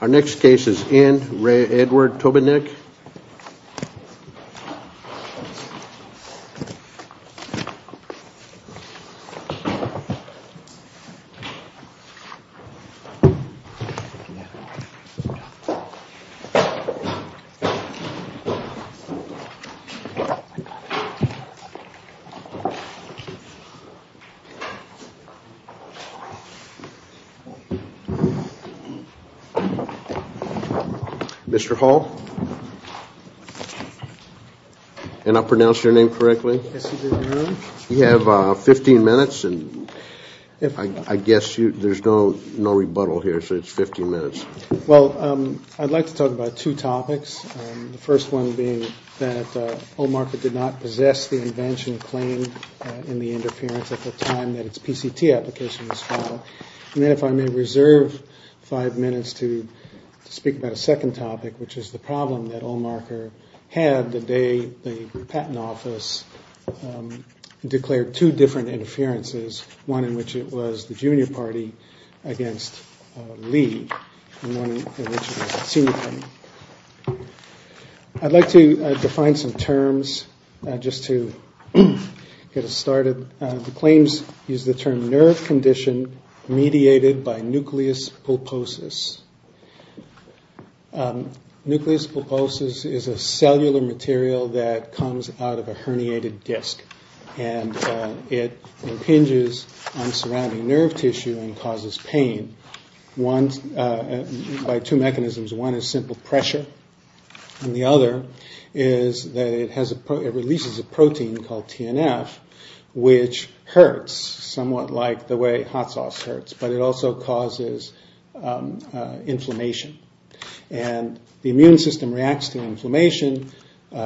Our next case is in Re Edward Tobinick. Mr. Hall and I'll pronounce your name correctly you have 15 minutes and if I guess you there's no no rebuttal here so it's 15 minutes well I'd like to talk about two topics the first one being that O market did not possess the invention claim in the interference at the time that it's PCT application was reserved five minutes to speak about a second topic which is the problem that all marker had the day the patent office declared two different interferences one in which it was the junior party against Lee I'd like to define some terms just to get started claims use the term nerve condition mediated by nucleus pulposus nucleus pulposus is a cellular material that comes out of a herniated disk and it impinges on surrounding nerve tissue and causes pain once by two mechanisms one is simple pressure and the other is that it has a pro it releases a protein called TNF which hurts somewhat like the way hot sauce hurts but it also causes inflammation and the immune system reacts to inflammation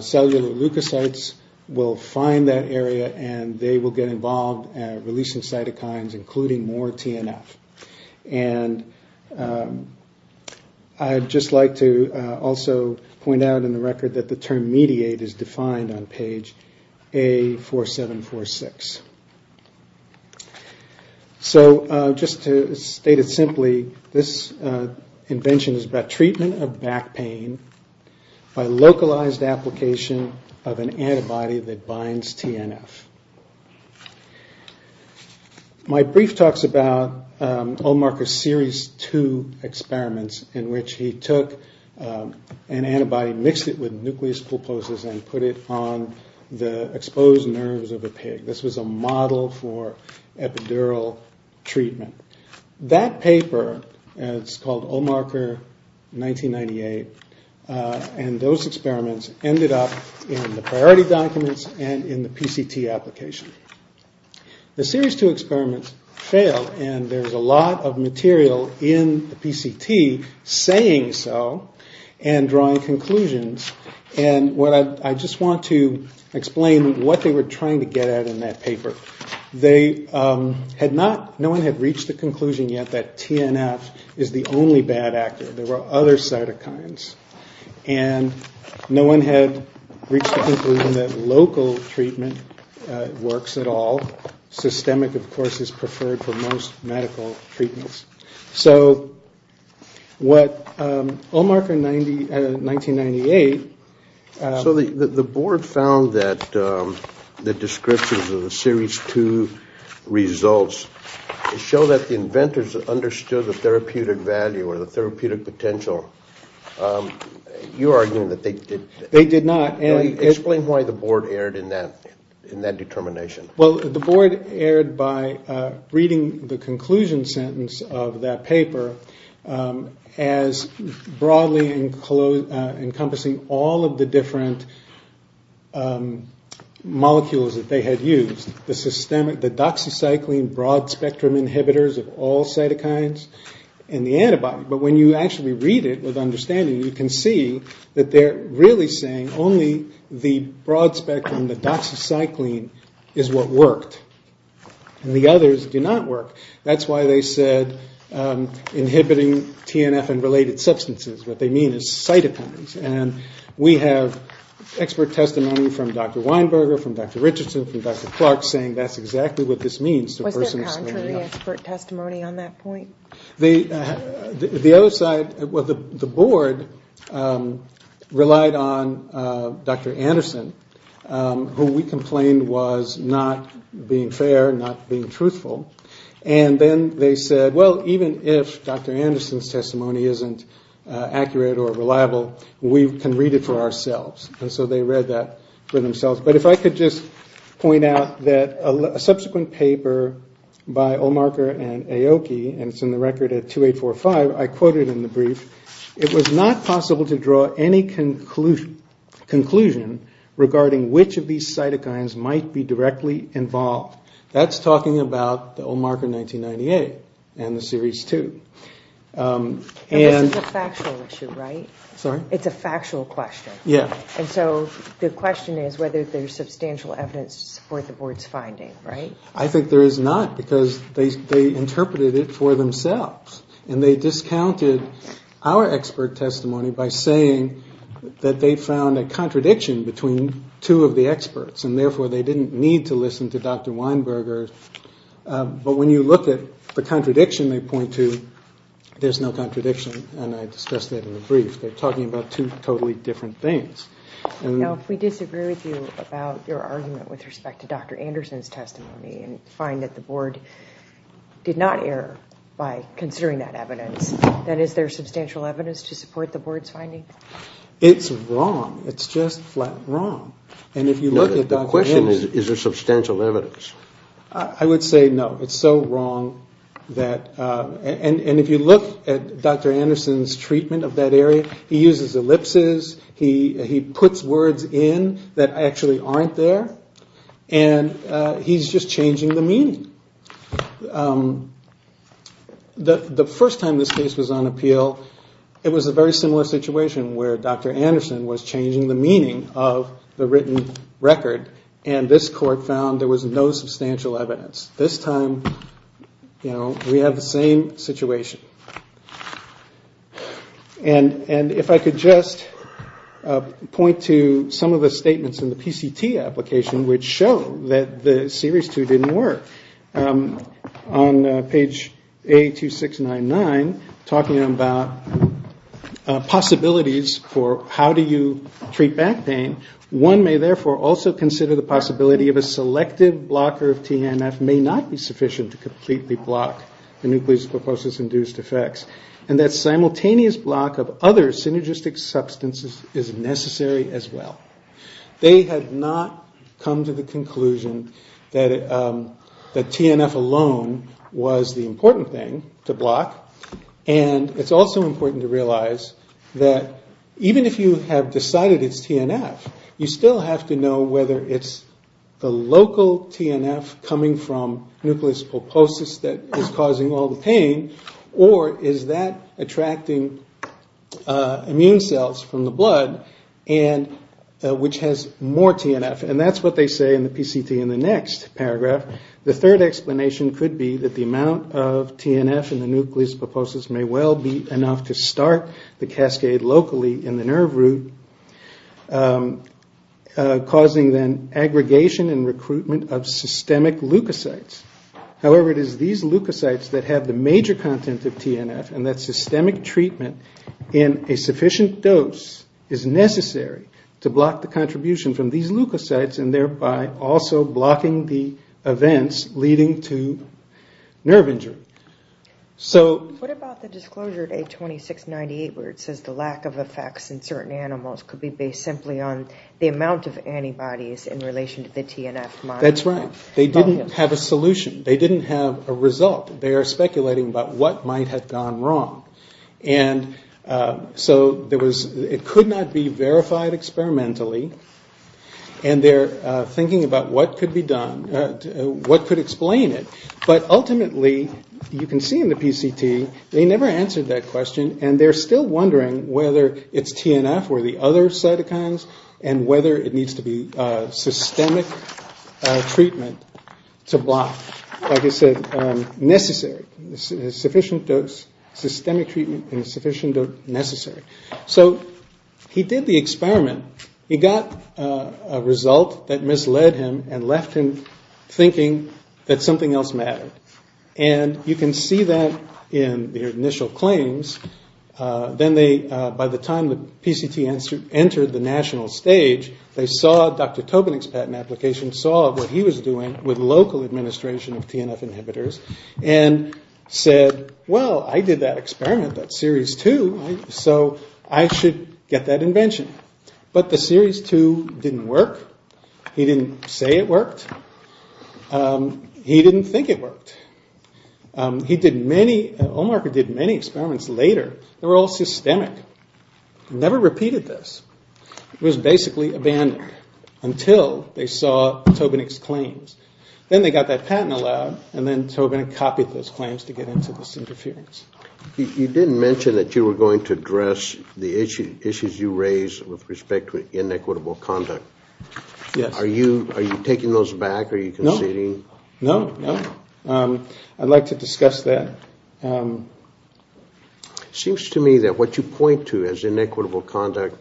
cellular leukocytes will find that area and they will get involved releasing cytokines including more TNF and I just like to also point out in the record that the term mediate is defined on page a 4746 so just to state it simply this invention is about treatment of back pain by localized application of an antibody that binds TNF my brief talks about all markers series two experiments in which he took an antibody mixed it with nucleus pulposus and put it on the exposed nerves of a pig this was a model for epidural treatment that paper is called all marker 1998 and those experiments ended up in the priority documents and in the PCT application the series to experiments failed and there's a lot of material in the PCT saying so and drawing conclusions and what I just want to explain what they were trying to get at in that paper they had not no one had reached the conclusion yet that TNF is the only bad actor there were other cytokines and no one had reached the local treatment works at all systemic of course is preferred for most medical treatments so what all marker 90 1998 so the the board found that the descriptions of the series to results show that the inventors understood the therapeutic value or the therapeutic potential you are doing that they did not explain why the board erred in that in that determination well the board erred by reading the conclusion sentence of that paper as broadly and close encompassing all of the different molecules that they had used the systemic the doxycycline broad-spectrum inhibitors of all cytokines and the antibody but when you actually read it with understanding you can see that they're really saying only the broad-spectrum the doxycycline is what worked the others do not work that's why they said inhibiting TNF and related substances what they mean is cytokines and we have expert testimony from dr. Weinberger from dr. Richardson from dr. Clark saying that's exactly what this means the other side was the board relied on dr. Anderson who we complained was not being fair not being truthful and then they said well even if dr. Anderson's testimony isn't accurate or reliable we can read it for ourselves and so they read that for themselves but if I could just point out that a subsequent paper by all marker and Aoki and it's in the record at 2845 I quoted in the brief it was not possible to draw any conclusion conclusion regarding which of these cytokines might be directly involved that's talking about the old marker 1998 and the series 2 and it's a factual question yeah and so the question is whether there's substantial evidence to support the board's finding right I think there is not because they interpreted it for themselves and they discounted our expert testimony by saying that they found a contradiction between two of the experts and therefore they didn't need to listen to dr. Weinberger but when you look at the contradiction they point to there's no contradiction and I discussed that in the brief they're talking about two totally different things and we disagree with you about your argument with respect to dr. Anderson's testimony and find that the board did not err by considering that evidence that is there substantial evidence to support the board's finding it's wrong it's just flat wrong and if you look at the question is there substantial evidence I would say no it's so wrong that and and if you look at dr. Anderson's treatment of that area he uses ellipses he he puts words in that actually aren't there and he's just changing the meaning that the first time this case was on appeal it was a very similar situation where dr. Anderson was changing the meaning of the written record and this court found there was no substantial evidence this time you know we have the same situation and and if I could just point to some of the statements in the PCT application which show that the series two didn't work on page a to six nine nine talking about possibilities for how do you treat back pain one may therefore also consider the possibility of a selective blocker of TNF may not be sufficient to effects and that simultaneous block of other synergistic substances is necessary as well they have not come to the conclusion that the TNF alone was the important thing to block and it's also important to realize that even if you have decided it's TNF you still have to know whether it's the local TNF coming from nucleus pulposus that is causing all the pain or is that attracting immune cells from the blood and which has more TNF and that's what they say in the PCT in the next paragraph the third explanation could be that the amount of TNF in the nucleus pulposus may well be enough to start the cascade locally in the nerve root causing then aggregation and recruitment of systemic leukocytes however it is these leukocytes that have the major content of TNF and that systemic treatment in a sufficient dose is necessary to block the contribution from these leukocytes and thereby also blocking the events leading to nerve injury so what about the disclosure a 2698 where it says the lack of effects in certain animals could be based simply on the amount of antibodies in relation to the TNF that's right they didn't have a solution they didn't have a result they are speculating about what might have gone wrong and so there was it could not be verified experimentally and they're thinking about what could be done what could explain it but ultimately you can see in the PCT they never answered that question and they're still wondering whether it's TNF or the other cytokines and whether it needs to be systemic treatment to block like I said necessary this is sufficient dose systemic treatment and sufficient necessary so he did the experiment he got a result that misled him and left him thinking that something else and you can see that in the initial claims then they by the time the PCT answered entered the national stage they saw dr. Tobin expat an application saw what he was doing with local administration of TNF inhibitors and said well I did that experiment that series too so I should get that invention but the series to didn't work he didn't say it worked he didn't think it worked he did many Omar could did many experiments later they were all systemic never repeated this it was basically abandoned until they saw Tobin exclaims then they got that patent allowed and then Tobin and copied those claims to get into this interference you didn't mention that you were going to address the issue issues you raise with respect with inequitable conduct yeah are you are you taking those back are you conceding no no I'd like to discuss that seems to me that what you point to as inequitable conduct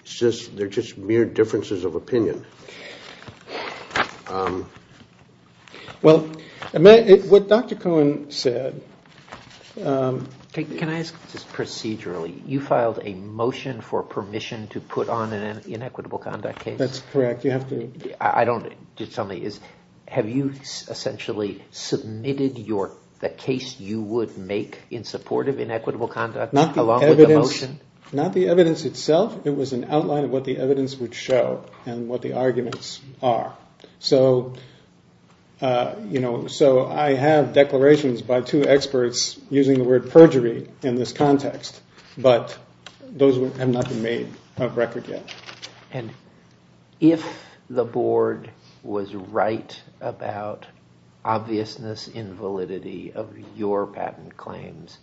it's just they're just mere differences of opinion well what dr. Cohen said can I ask this procedurally you filed a motion for permission to put on an inequitable conduct case that's correct you have to I don't just tell me is have you essentially submitted your the case you would make in support of inequitable conduct not not the evidence itself it was an outline of what the evidence would show and what the arguments are so you know so I have declarations by two experts using the word perjury in this context but those were have not been of record yet and if the board was right about obviousness invalidity of your patent claims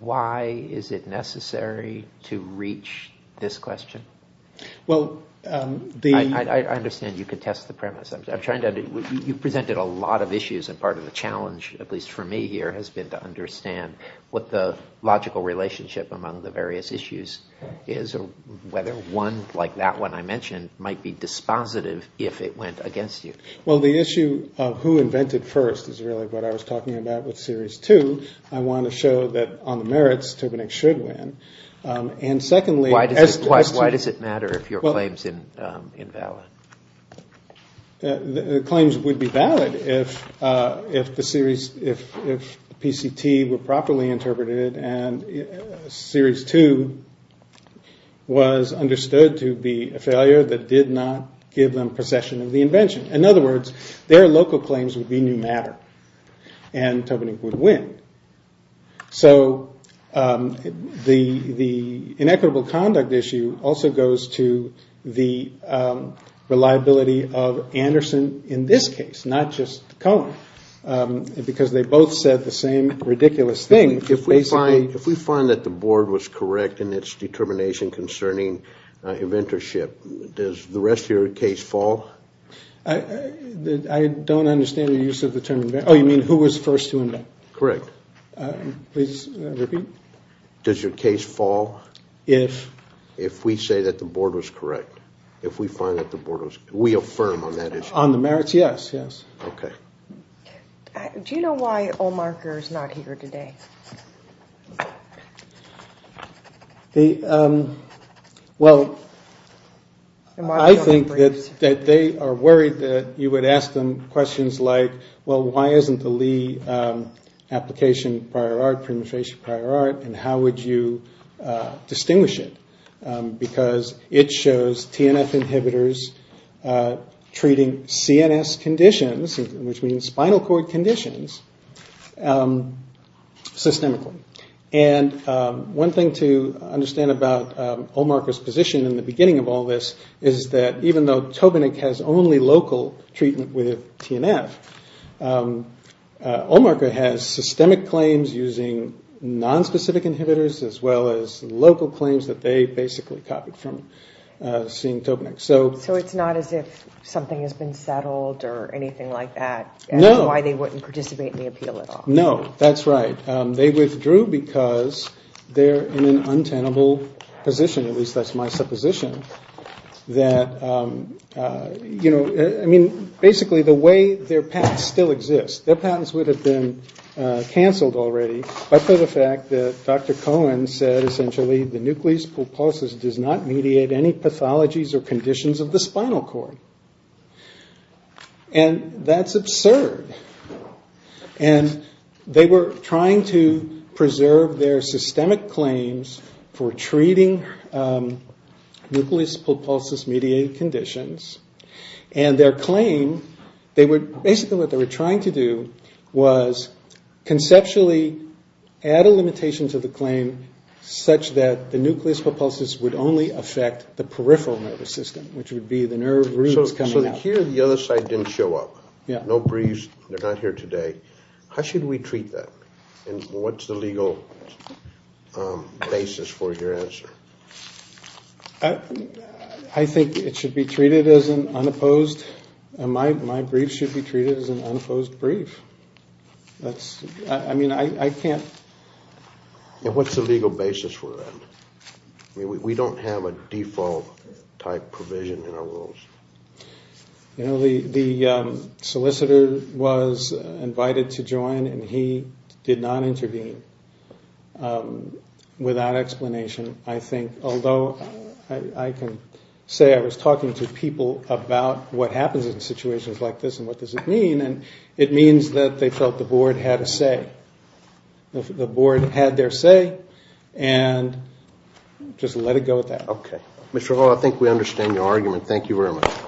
why is it necessary to reach this question well the I understand you could test the premise I'm trying to do you presented a lot of issues and part of the challenge at least for me here has been to understand what the logical relationship among the various issues is or whether one like that one I mentioned might be dispositive if it went against you well the issue of who invented first is really what I was talking about with series two I want to show that on the merits to connect should win and secondly why does why does it matter if your claims in invalid the claims would be valid if if the series if PCT were properly interpreted and series two was understood to be a failure that did not give them possession of the invention in other words their local claims would be new matter and Tobin would win so the the inequitable conduct issue also goes to the reliability of Anderson in this case not just because they both said the same ridiculous thing if we find if we find that the board was correct in its determination concerning inventorship does the rest of your case fall I don't understand the use of the term you mean who was first correct does your case fall if if we say that the board was correct if we find that the board was we affirm on that is on the merits yes yes okay do you know why all markers not here today the well I think that that they are worried that you would ask them questions like well why isn't the Lee application prior art penetration prior art and how would you distinguish it because it shows TNF inhibitors treating CNS conditions which means spinal cord conditions and one thing to understand about all markers position in the beginning of all this is that even though Tobin it has only local treatment with TNF has systemic claims using non-specific inhibitors as well as local claims that they basically copied from seeing Tobin so so it's not as if something has been settled or anything like that no why they wouldn't participate in the appeal at all no that's right they withdrew because they're in an untenable position at least that's my supposition that you know I mean basically the way their past still exists their patents would have been canceled already but for the fact that dr. Cohen said essentially the nucleus pulposus does not mediate any pathologies or conditions of the spinal cord and that's absurd and they were trying to preserve their systemic claims for treating nucleus pulposus mediated conditions and their claim they would basically what they were trying to do was conceptually add a limitation to the claim such that the nucleus pulposus would only affect the peripheral nervous system which would be the nerve roots coming out here the other side didn't show up yeah no breeze they're not here today how should we treat that and what's the legal basis for your answer I think it should be treated as an unopposed my brief should be treated as an unopposed brief that's I mean I can't and what's the legal basis for that we don't have a default type provision in our rules you know the the solicitor was invited to join and he did not intervene without explanation I think although I can say I was talking to people about what happens in situations like this and what does it mean and it means that they felt the board had a say the board had their say and just let it go with that okay Mr. Hall I think we understand your argument thank you very much